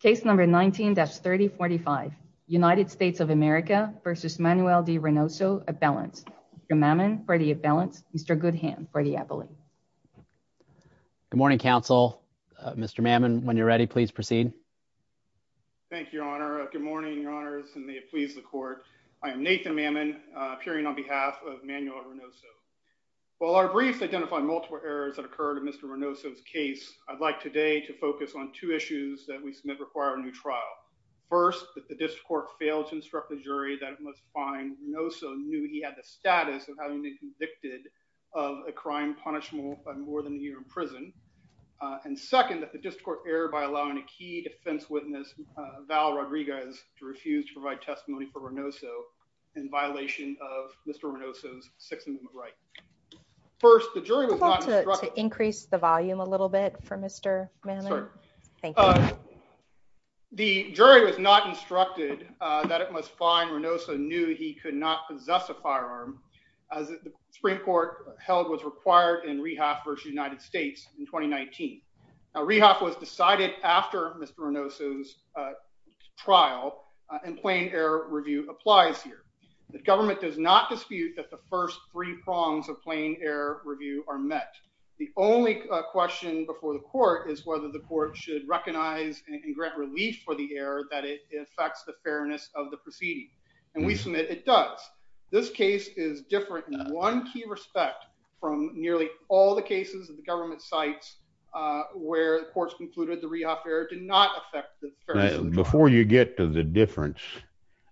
Case number 19-3045, United States of America v. Manuel de Reynoso, at balance. Mr. Mammon, for the at balance. Mr. Goodham, for the appellate. Good morning, counsel. Mr. Mammon, when you're ready, please proceed. Thank you, your honor. Good morning, your honors, and may it please the court. I am Nathan Mammon, appearing on behalf of Manuel Reynoso. While our briefs identify multiple errors that we submit require a new trial. First, that the district court failed to instruct the jury that it was fine. Reynoso knew he had the status of having been convicted of a crime punishable by more than a year in prison. And second, that the district court erred by allowing a key defense witness, Val Rodriguez, to refuse to provide testimony for Reynoso in violation of Mr. Reynoso's Sixth Amendment right. First, the jury was not instructed- The jury was not instructed that it was fine. Reynoso knew he could not possess a firearm as the Supreme Court held was required in Rehoff v. United States in 2019. Rehoff was decided after Mr. Reynoso's trial, and plain error review applies here. The government does not dispute that the first three prongs of plain error review are met. The only question before the court is whether the court should recognize and grant relief for the error that it affects the fairness of the proceeding. And we submit it does. This case is different in one key respect from nearly all the cases of the government sites where the courts concluded the Rehoff error did not affect the fairness of the trial. Before you get to the difference,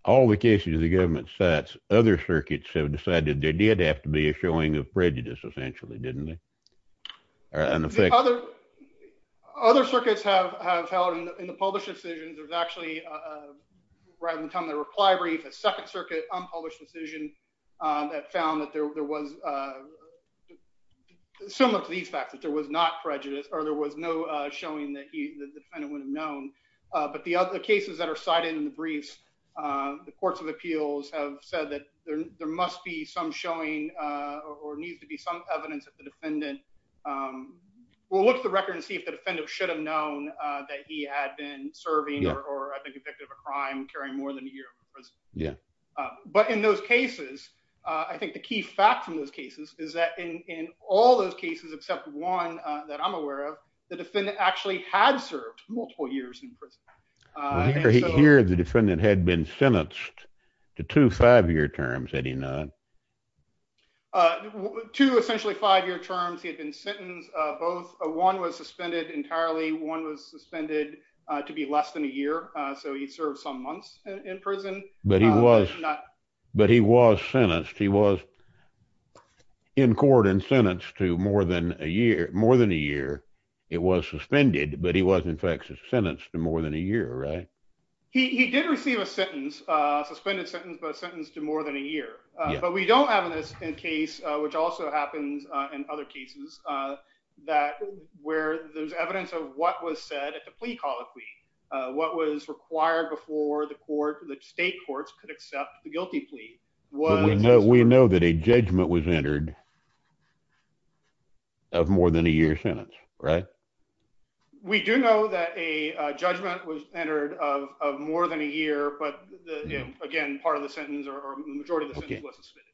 all the cases of the government sites, other circuits have decided there did have to be a showing of prejudice essentially, didn't it? Other circuits have held in the published decisions, there's actually right in the time of the reply brief, a second circuit unpublished decision that found that there was similar to these facts, that there was not prejudice or there was no showing that the defendant would have known. But the other cases that are cited in the briefs, the courts of appeals have said that there must be some showing or needs to be some evidence that the defendant will look at the record and see if the defendant should have known that he had been serving or I think convicted of a crime carrying more than a year in prison. But in those cases, I think the key fact from those cases is that in all those cases, except one that I'm aware of, the defendant actually had served multiple years in prison. Here the defendant had been sentenced to two five-year terms, had he not? Two essentially five-year terms, he had been sentenced both, one was suspended entirely, one was suspended to be less than a year, so he served some months in prison. But he was sentenced, he was in court and sentenced to more than a year, it was suspended, but he was in fact sentenced to more than a year, right? He did receive a sentence, a suspended sentence, but sentenced to more than a year. But we don't have in this case, which also happens in other cases, that where there's evidence of what was said at the plea colloquy, what was required before the court, the state courts, could accept the guilty plea. We know that a judgment was entered of more than a year sentence, right? We do know that a judgment was entered of more than a year, but again, part of the sentence or the majority of the sentence was suspended.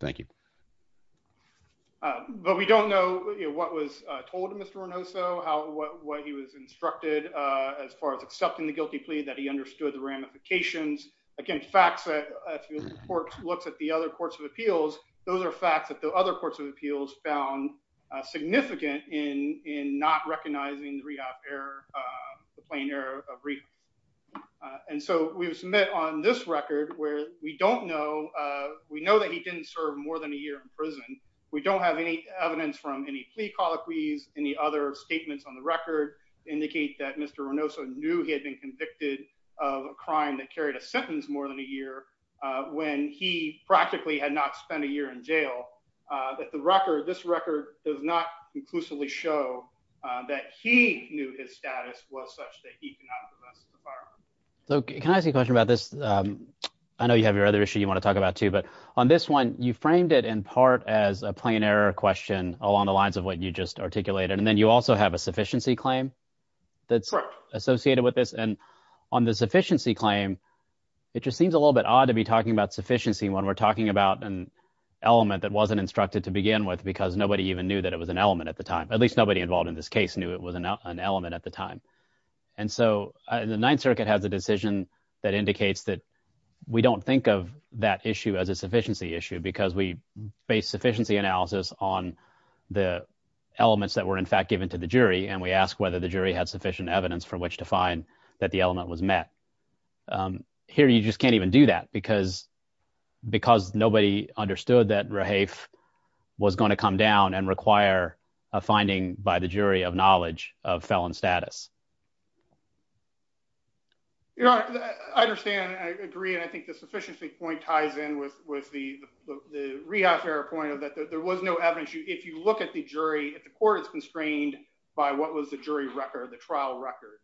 Thank you. But we don't know what was told to Mr. Ornoso, what he was instructed as far as accepting the guilty plea, that he understood the ramifications. Again, facts, if the court looks at the other appeals, those are facts that the other courts of appeals found significant in not recognizing the rehab error, the plain error of rehab. And so we've submitted on this record where we don't know, we know that he didn't serve more than a year in prison. We don't have any evidence from any plea colloquies, any other statements on the record indicate that Mr. Ornoso knew he had been convicted of a crime that carried a sentence more than a year, when he practically had not spent a year in jail, that the record, this record does not conclusively show that he knew his status was such that he could not have invested the firearm. So can I ask you a question about this? I know you have your other issue you want to talk about too, but on this one, you framed it in part as a plain error question along the lines of what you just articulated. And then you also have a and on the sufficiency claim, it just seems a little bit odd to be talking about sufficiency when we're talking about an element that wasn't instructed to begin with, because nobody even knew that it was an element at the time. At least nobody involved in this case knew it was an element at the time. And so the Ninth Circuit has a decision that indicates that we don't think of that issue as a sufficiency issue because we base sufficiency analysis on the elements that were in evidence for which to find that the element was met. Here, you just can't even do that because nobody understood that Rahafe was going to come down and require a finding by the jury of knowledge of felon status. I understand. I agree. And I think the sufficiency point ties in with the rehash error point of that there was no evidence. If you look at the jury, if the court is constrained by what was the jury record, the trial record.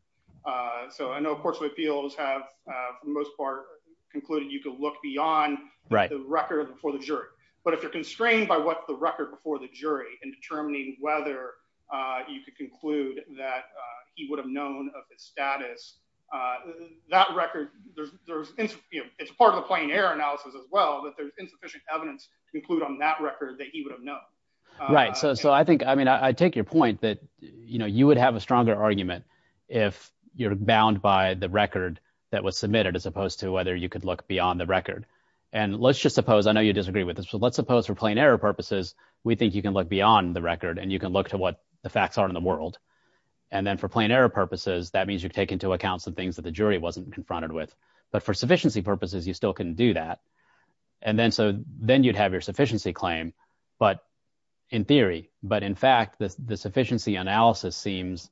So I know courts of appeals have for the most part concluded you could look beyond the record before the jury. But if you're constrained by what the record before the jury in determining whether you could conclude that he would have known of his status, that record, it's part of the plain error analysis as well, that there's insufficient evidence to conclude on that I take your point that you would have a stronger argument if you're bound by the record that was submitted as opposed to whether you could look beyond the record. And let's just suppose, I know you disagree with this, but let's suppose for plain error purposes, we think you can look beyond the record and you can look to what the facts are in the world. And then for plain error purposes, that means you take into account some things that the jury wasn't confronted with. But for sufficiency purposes, you still can do that. And then so then you'd have your sufficiency claim, but in theory, but in fact, the sufficiency analysis seems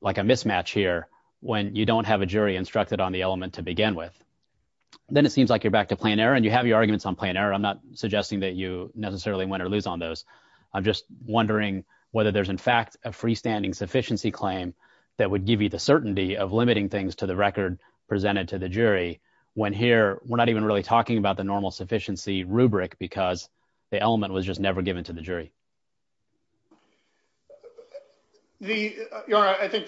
like a mismatch here when you don't have a jury instructed on the element to begin with. Then it seems like you're back to plain error and you have your arguments on plain error. I'm not suggesting that you necessarily win or lose on those. I'm just wondering whether there's in fact a freestanding sufficiency claim that would give you the certainty of limiting things to the record presented to the jury, when here we're not even really talking about the normal sufficiency rubric because the element was just never given to the jury. I think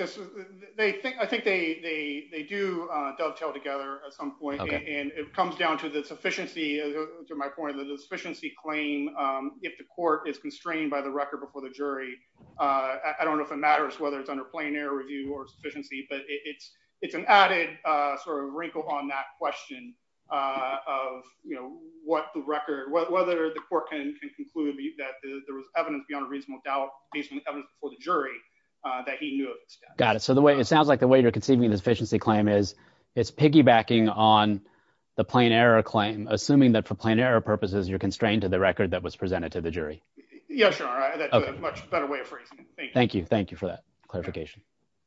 they do dovetail together at some point and it comes down to the sufficiency, to my point, the sufficiency claim, if the court is constrained by the record before the jury, I don't know if it matters whether it's under plain error review or sufficiency, but it's an added sort of wrinkle on that question of what the record, whether the there was evidence beyond a reasonable doubt, based on the evidence before the jury, that he knew of. Got it. So the way it sounds like the way you're conceiving the sufficiency claim is it's piggybacking on the plain error claim, assuming that for plain error purposes, you're constrained to the record that was presented to the jury. Yeah, sure. Much better way of phrasing it. Thank you. Thank you for that clarification.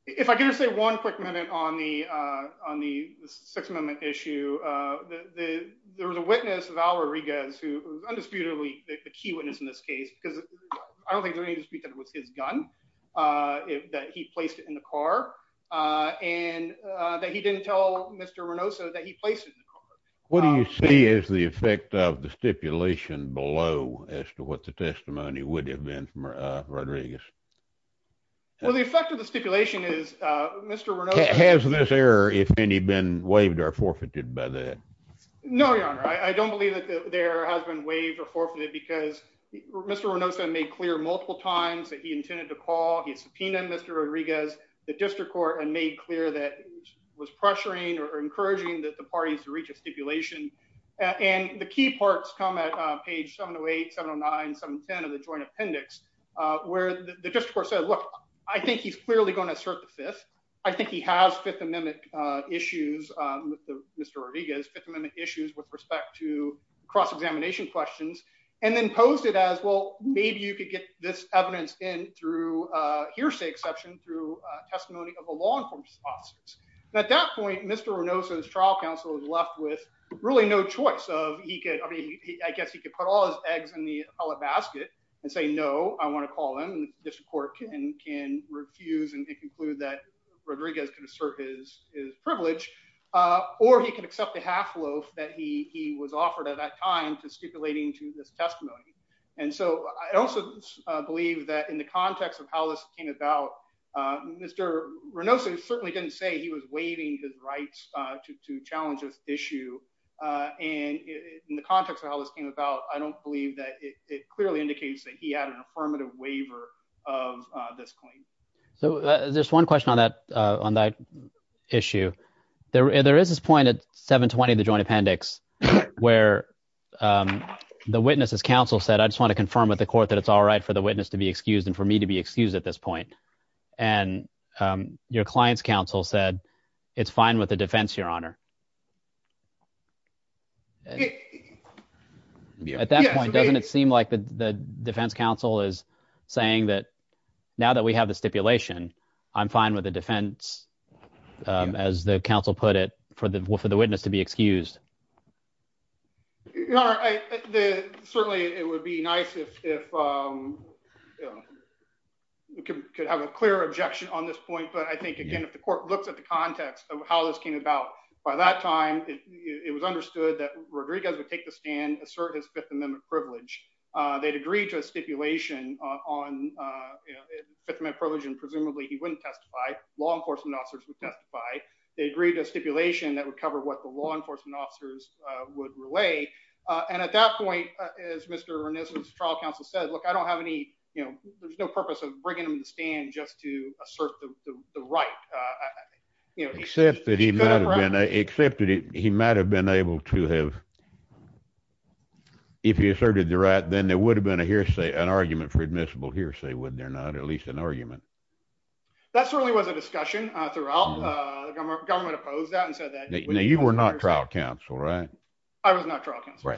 If I can just say one quick minute on the Sixth Amendment issue, there was a witness, Val Rodriguez, who was undisputedly the key witness in this case, because I don't think there was any dispute that it was his gun, that he placed it in the car, and that he didn't tell Mr. Reynoso that he placed it in the car. What do you see as the effect of the stipulation below as to what the testimony would have been from Rodriguez? Well, the effect of the stipulation is Mr. Reynoso... Has this error, if any, been waived or forfeited by that? No, Your Honor. I don't believe that there has been waived or forfeited because Mr. Reynoso made clear multiple times that he intended to call. He subpoenaed Mr. Rodriguez, the district court, and made clear that he was pressuring or encouraging that the parties to reach a stipulation. And the key parts come at page 708, 709, 710 of the joint appendix, where the district court said, look, I think he's clearly going to assert the Fifth. I think he has Fifth Amendment issues with Mr. Rodriguez, Fifth Amendment issues with respect to cross-examination questions, and then posed it as, well, maybe you could get this evidence in through hearsay exception, through testimony of a law enforcement officer. At that point, Mr. Reynoso's trial counsel is left with really no choice. I guess he could put all his eggs in the appellate basket and say, no, I want to call him, and the district court can refuse and conclude that Rodriguez can assert his privilege, or he can accept the half loaf that he was offered at that time to stipulating to this testimony. And so I also believe that in the context of how this came about, Mr. Reynoso certainly didn't say he was waiving his rights to challenge this issue. And in the context of how this came about, I don't believe that it clearly indicates that he had an on that issue. There is this point at 7-20, the joint appendix, where the witness's counsel said, I just want to confirm with the court that it's all right for the witness to be excused and for me to be excused at this point. And your client's counsel said, it's fine with the defense, Your Honor. At that point, doesn't it seem like the defense counsel is saying that now that we have the stipulation, I'm fine with the defense, as the counsel put it, for the witness to be excused? Certainly, it would be nice if we could have a clear objection on this point. But I think, again, if the court looks at the context of how this came about, by that time, it was understood that Rodriguez would take the stand, assert his Fifth Amendment privilege. They'd agreed to a stipulation that would cover what the law enforcement officers would relay. And at that point, as Mr. Ernesto's trial counsel said, look, I don't have any, you know, there's no purpose of bringing him to stand just to assert the right. Except that he might have been able to have, if he asserted the right, then there would have been a hearsay, an argument for admissible argument. That certainly was a discussion throughout. The government opposed that and said that. Now, you were not trial counsel, right? I was not trial counsel.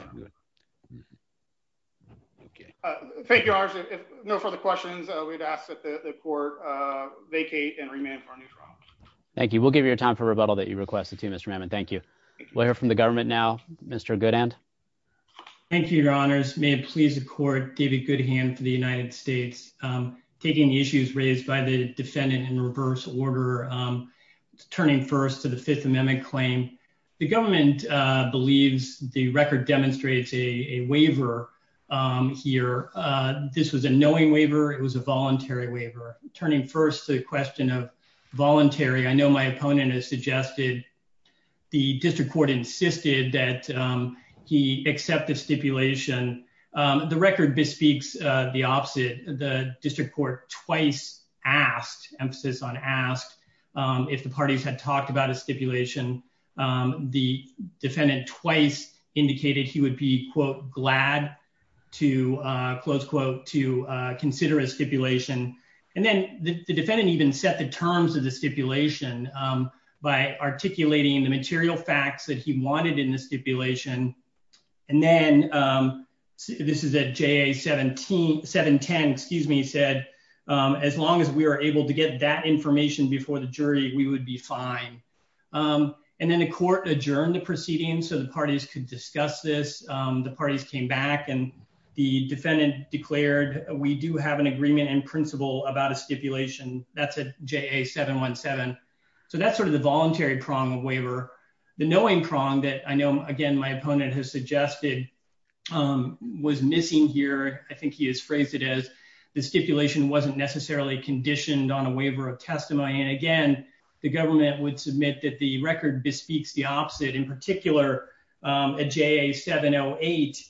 Thank you, Your Honors. If no further questions, we'd ask that the court vacate and remand for a new trial. Thank you. We'll give you a time for rebuttal that you requested, too, Mr. Mammon. Thank you. We'll hear from the government now. Mr. Goodhand. Thank you, Your Honors. May it please the court, David Goodhand for the United States. Taking the issues raised by the defendant in reverse order, turning first to the Fifth Amendment claim. The government believes the record demonstrates a waiver here. This was a knowing waiver. It was a voluntary waiver. Turning first to the question of voluntary, I know my opponent has suggested the district court insisted that he accept the stipulation. The record bespeaks the opposite. The district court twice asked, emphasis on asked, if the parties had talked about a stipulation. The defendant twice indicated he would be, quote, glad to, close quote, to consider a stipulation. And then the defendant even set the terms of the stipulation by articulating the material facts that he wanted in the stipulation. And then this is at JA 710, excuse me, said as long as we are able to get that information before the jury, we would be fine. And then the court adjourned the proceedings so the parties could discuss this. The parties came back and the defendant declared we do have an agreement in principle about a stipulation. That's at JA 717. So that's sort of the voluntary prong of waiver. The knowing prong that I know, again, my opponent has suggested was missing here. I think he has phrased it as the stipulation wasn't necessarily conditioned on a waiver of testimony. And again, the government would submit that the record bespeaks the opposite. In particular, at JA 708,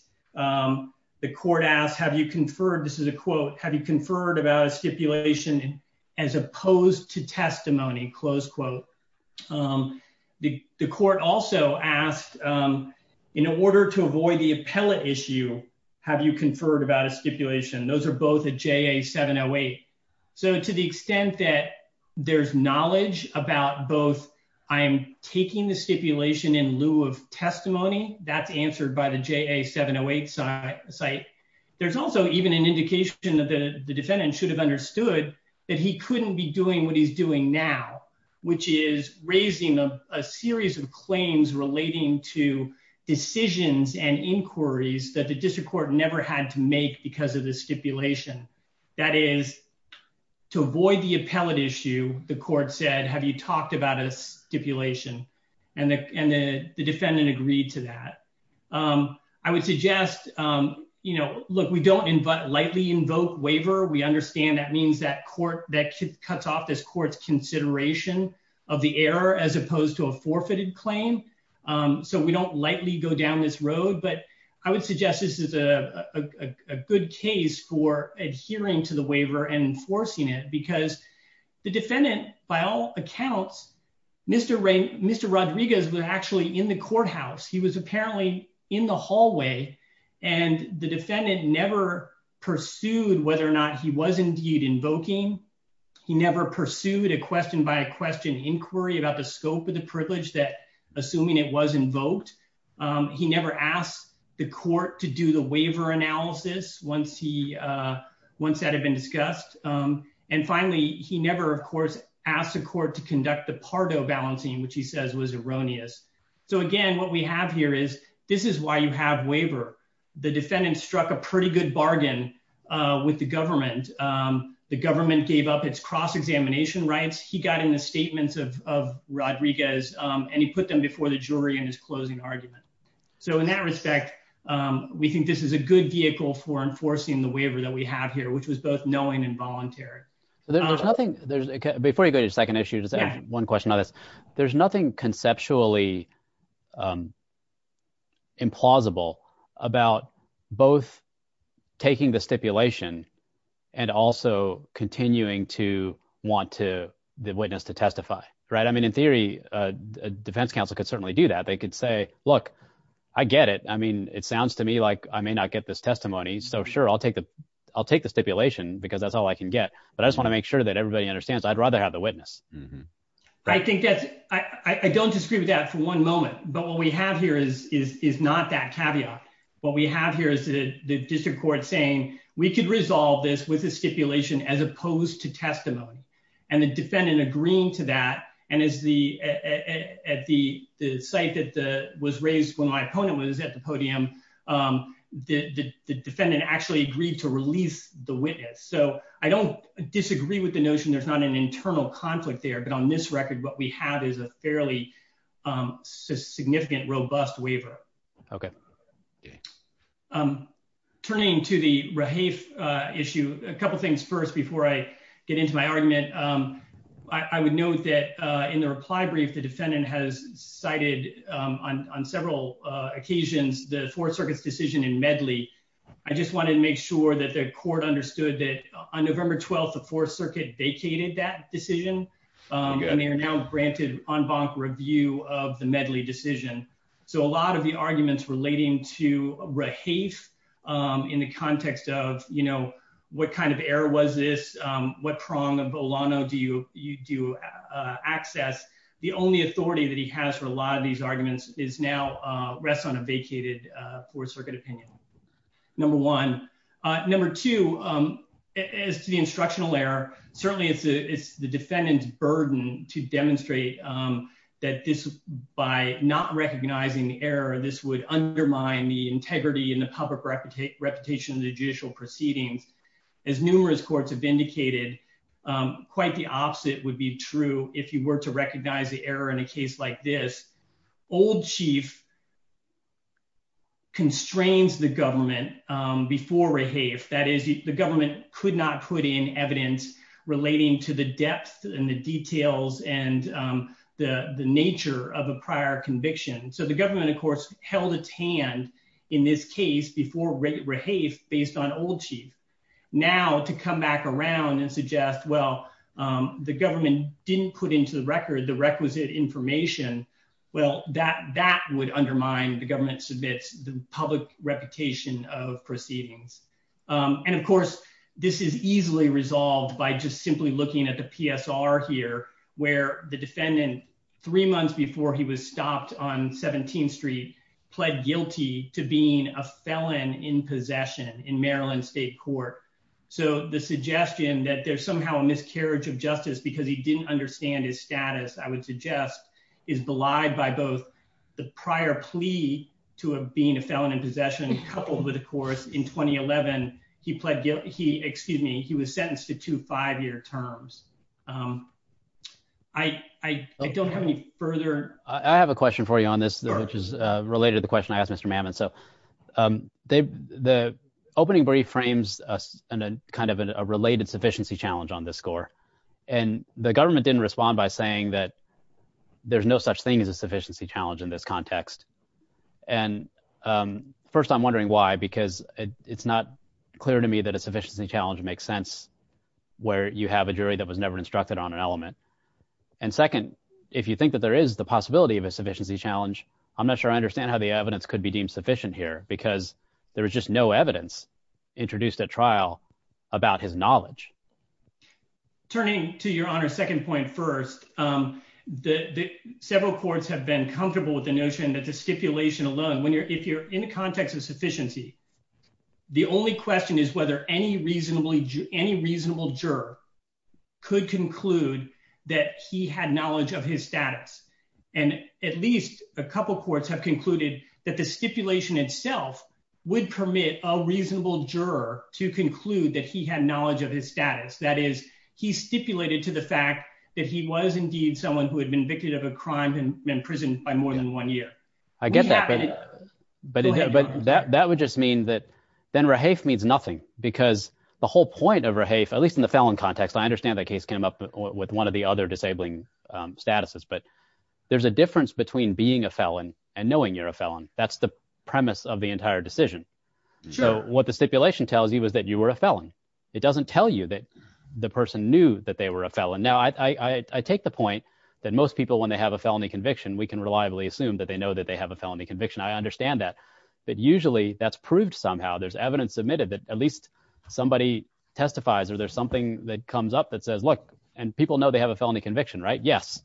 the court asked, have you conferred, this is a quote, have you conferred about a stipulation as opposed to testimony, close quote. The court also asked, in order to avoid the appellate issue, have you conferred about a stipulation? Those are both at JA 708. So to the extent that there's knowledge about both I am taking the stipulation in lieu of testimony, that's answered by the JA 708 site. There's also even an indication that the defendant should have understood that he couldn't be doing what he's doing now, which is raising a series of claims relating to decisions and inquiries that the district court never had to make because of the stipulation. That is, to avoid the appellate issue, the court said, have you talked about a stipulation? And the court suggests, look, we don't lightly invoke waiver. We understand that means that court, that cuts off this court's consideration of the error as opposed to a forfeited claim. So we don't lightly go down this road, but I would suggest this is a good case for adhering to the waiver and enforcing it because the defendant, by all accounts, Mr. Rodriguez was actually in the courthouse. He was apparently in the hallway and the defendant never pursued whether or not he was indeed invoking. He never pursued a question by question inquiry about the scope of the privilege that assuming it was invoked. He never asked the court to do the waiver analysis once that had been discussed. And finally, he never, of course, asked the court to So again, what we have here is this is why you have waiver. The defendant struck a pretty good bargain with the government. The government gave up its cross-examination rights. He got in the statements of Rodriguez and he put them before the jury in his closing argument. So in that respect, we think this is a good vehicle for enforcing the waiver that we have here, which was both knowing and voluntary. There's nothing, before you go to the second issue, just one question on this. There's nothing conceptually implausible about both taking the stipulation and also continuing to want the witness to testify. I mean, in theory, a defense counsel could certainly do that. They could say, look, I get it. I mean, it sounds to me like I may not get this testimony. So sure, I'll take the stipulation because that's all I can get. But I just want to make sure that everybody understands, I'd rather have the witness. I think that's, I don't disagree with that for one moment. But what we have here is not that caveat. What we have here is the district court saying we could resolve this with a stipulation as opposed to testimony and the defendant agreeing to that. And at the site that was raised when my opponent was at the podium, the defendant actually agreed to release the witness. So I don't disagree with the notion there's not an internal conflict there. But on this record, what we have is a fairly significant, robust waiver. Okay. Turning to the Rahafe issue, a couple of things first, before I get into my argument. I would note that in the reply brief, the defendant has cited on several occasions the Fourth Circuit's decision in Medley. I just wanted to make sure that the court understood that on November 12th, the Fourth Circuit vacated that decision. And they are now granted en banc review of the Medley decision. So a lot of the arguments relating to Rahafe in the context of, you know, what kind of error was this? What prong of Olano do you access? The only authority that he has for a lot of these arguments is now, rests on a vacated Fourth Circuit opinion. Number one. Number two, as to the instructional error, certainly it's the defendant's burden to demonstrate that this, by not recognizing the error, this would undermine the integrity and the public reputation of the judicial proceedings. As numerous courts have indicated, quite the opposite would be true if you were to recognize the error in a case like this. Old Chief constrains the government before Rahafe. That is, the government could not put in evidence relating to the depth and the details and the nature of a prior conviction. So the government, of course, held its hand in this case before Rahafe, based on Old Chief. Now, to come back around and suggest, well, the government didn't put into the record the requisite information, well, that would undermine the government's public reputation of proceedings. And of course, this is easily resolved by just simply looking at the PSR here, where the defendant, three months before he was stopped on 17th Street, pled guilty to being a felon in possession in Maryland State Court. So the suggestion that there's somehow a miscarriage of justice because he didn't understand his status, I would suggest, is belied by both the prior plea to being a felon in possession, coupled with, of course, in 2011, he was sentenced to two five-year terms. I don't have any further- I have a question for you on this, which is related to the question I asked Mr. Mamet. So the opening brief frames kind of a related sufficiency challenge on this score, and the government didn't respond by saying that there's no such thing as a sufficiency challenge in this context. And first, I'm wondering why, because it's not clear to me that a sufficiency challenge makes sense where you have a jury that was never instructed on an element. And second, if you think that there is the possibility of a sufficiency challenge, I'm not sure I understand how the evidence could be deemed sufficient here, because there was just no evidence introduced at trial about his knowledge. Turning to your honor's second point first, several courts have been comfortable with the notion that the stipulation alone, if you're in the context of sufficiency, the only question is whether any reasonable juror could conclude that he had knowledge of his status. And at least a couple of courts have concluded that the stipulation itself would permit a reasonable juror to conclude that he had knowledge of his status. That is, he stipulated to the fact that he was indeed someone who had been victim of a crime and been imprisoned by more than one year. I get that, but that would just mean that then Rahafe means nothing, because the whole point of Rahafe, at least in the felon context, I understand that case came up with one of the other disabling statuses, but there's a difference between being a felon and knowing you're a felon. That's the premise of the entire decision. So what the stipulation tells you is that you were a felon. It doesn't tell you that the person knew that they were a felon. Now, I take the point that most people, when they have a felony conviction, we can reliably assume that they know that they have a felony conviction. I understand that, but usually that's proved somehow. There's evidence submitted that at least somebody testifies, or there's something that says, look, and people know they have a felony conviction, right? Yes,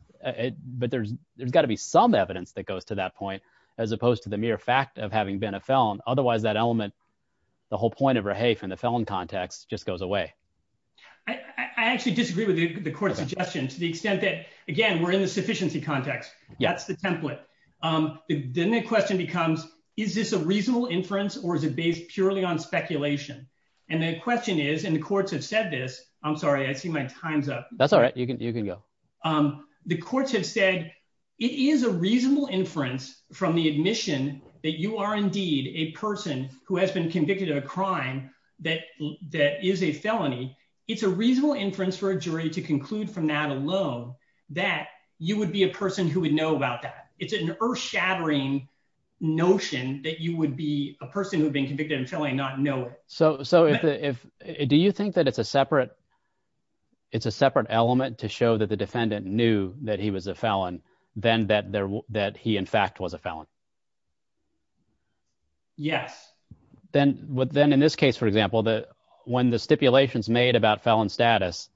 but there's got to be some evidence that goes to that point, as opposed to the mere fact of having been a felon. Otherwise, that element, the whole point of Rahafe in the felon context, just goes away. I actually disagree with the court's suggestion to the extent that, again, we're in the sufficiency context. That's the template. Then the question becomes, is this a reasonable inference or is it based purely on speculation? And the question is, and the courts have said this, I'm sorry, I see my time's up. That's all right. You can go. The courts have said it is a reasonable inference from the admission that you are indeed a person who has been convicted of a crime that is a felony. It's a reasonable inference for a jury to conclude from that alone that you would be a person who would know about that. It's an earth shattering notion that you would be a person who So do you think that it's a separate element to show that the defendant knew that he was a felon than that he, in fact, was a felon? Yes. Then in this case, for example, when the stipulation's made about felon status,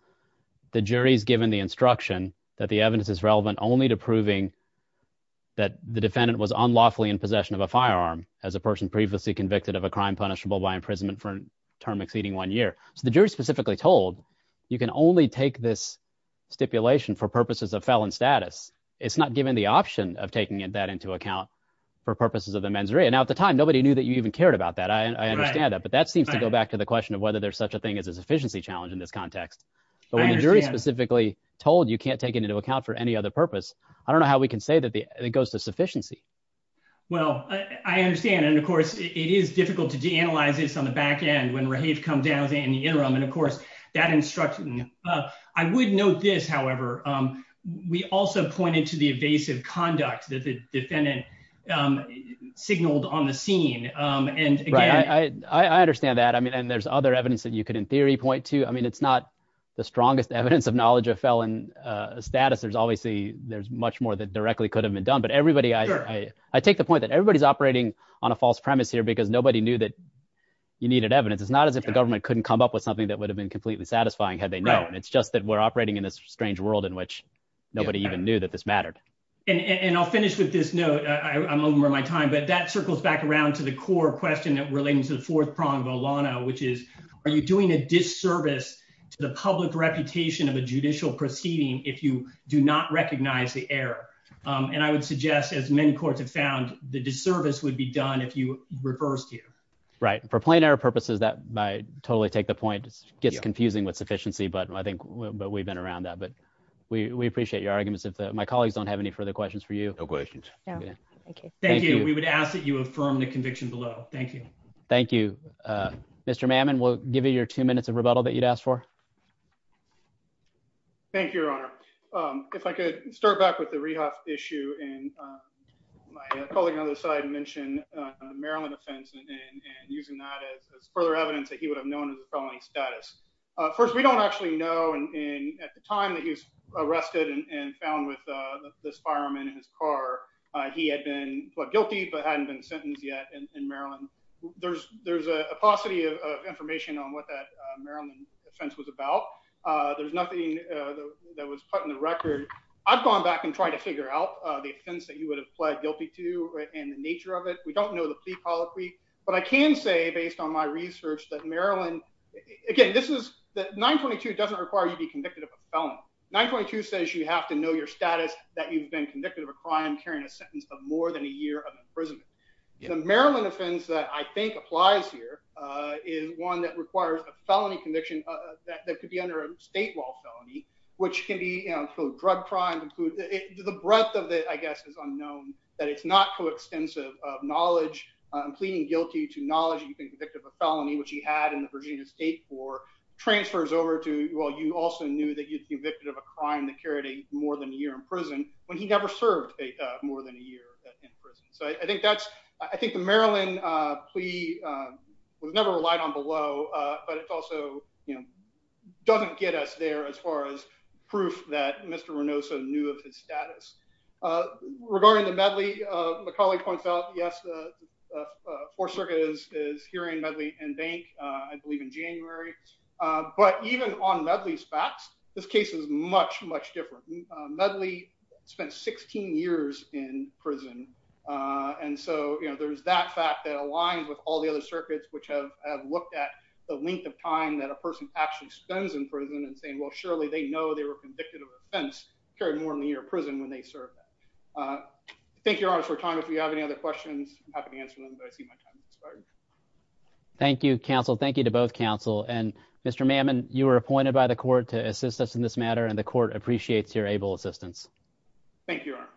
the jury's given the instruction that the evidence is relevant only to proving that the defendant was unlawfully in possession of a firearm as a person previously convicted of a crime punishable by imprisonment for a term exceeding one year. So the jury specifically told you can only take this stipulation for purposes of felon status. It's not given the option of taking that into account for purposes of the mens rea. Now, at the time, nobody knew that you even cared about that. I understand that. But that seems to go back to the question of whether there's such a thing as a sufficiency challenge in this context. But when the jury specifically told you can't take it into account for any other purpose, I don't know how we can say that it goes to de-analyze this on the back end when Rahave comes down in the interim. And, of course, that instruction, I would note this, however, we also pointed to the evasive conduct that the defendant signaled on the scene. And I understand that. I mean, and there's other evidence that you could, in theory, point to. I mean, it's not the strongest evidence of knowledge of felon status. There's obviously there's much more that directly could have been done. But everybody, I take the point that everybody's operating on a false premise here because nobody knew that you needed evidence. It's not as if the government couldn't come up with something that would have been completely satisfying had they known. It's just that we're operating in this strange world in which nobody even knew that this mattered. And I'll finish with this note. I'm over my time. But that circles back around to the core question that relates to the fourth prong of Olano, which is are you doing a disservice to the public reputation of a judicial proceeding if you do not recognize the error? And I would suggest, as many courts have found, the disservice would be done if you reversed you. Right. For plain error purposes, that might totally take the point. It gets confusing with sufficiency. But I think we've been around that. But we appreciate your arguments. My colleagues don't have any further questions for you. No questions. Thank you. We would ask that you affirm the conviction below. Thank you. Thank you. Mr. Mamman, we'll give you your two minutes of rebuttal that you'd asked for. Thank you, Your Honor. If I could start back with the rehab issue and my colleague on the other side mentioned Maryland offense and using that as further evidence that he would have known as a felony status. First, we don't actually know. And at the time that he was arrested and found with this fireman in his car, he had been guilty but hadn't been sentenced yet in Maryland. There's a paucity of information on what that Maryland offense was about. There's nothing that was put in the record. I've gone back and tried to figure out the offense that you would have pled guilty to and the nature of it. We don't know the plea policy. But I can say, based on my research, that Maryland—again, 922 doesn't require you to be convicted of a felony. 922 says you have to know your status that you've been convicted of a crime carrying a sentence of more than a year of imprisonment. The Maryland offense that I think applies here is one that requires a felony conviction that could be under a state law felony, which can be drug crime. The breadth of it, I guess, is unknown. That it's not coextensive of knowledge, pleading guilty to knowledge that you've been convicted of a felony, which he had in the Virginia state for transfers over to—well, you also knew that you'd been convicted of a crime that carried more than a year in prison when he never served more than a year in prison. So I think that's—I think the Maryland plea was never relied on below, but it also, you know, doesn't get us there as far as proof that Mr. Renoso knew of his status. Regarding the Medley, my colleague points out, yes, the Fourth Circuit is hearing Medley and Bank, I believe, in January. But even on Medley's facts, this case is much, much different. Medley spent 16 years in prison, and so, you know, there's that fact that aligns with all the other circuits which have looked at the length of time that a person actually spends in prison and saying, well, surely they know they were convicted of offense, carried more than a year in prison when they served that. Thank you, Your Honor, for your time. If you have any other questions, I'm happy to answer them, but I see my time has expired. Thank you, counsel. Thank you to both counsel. And Mr. Mammon, you were appointed by the court to assist us in this matter, and the court appreciates your able assistance. Thank you, Your Honor.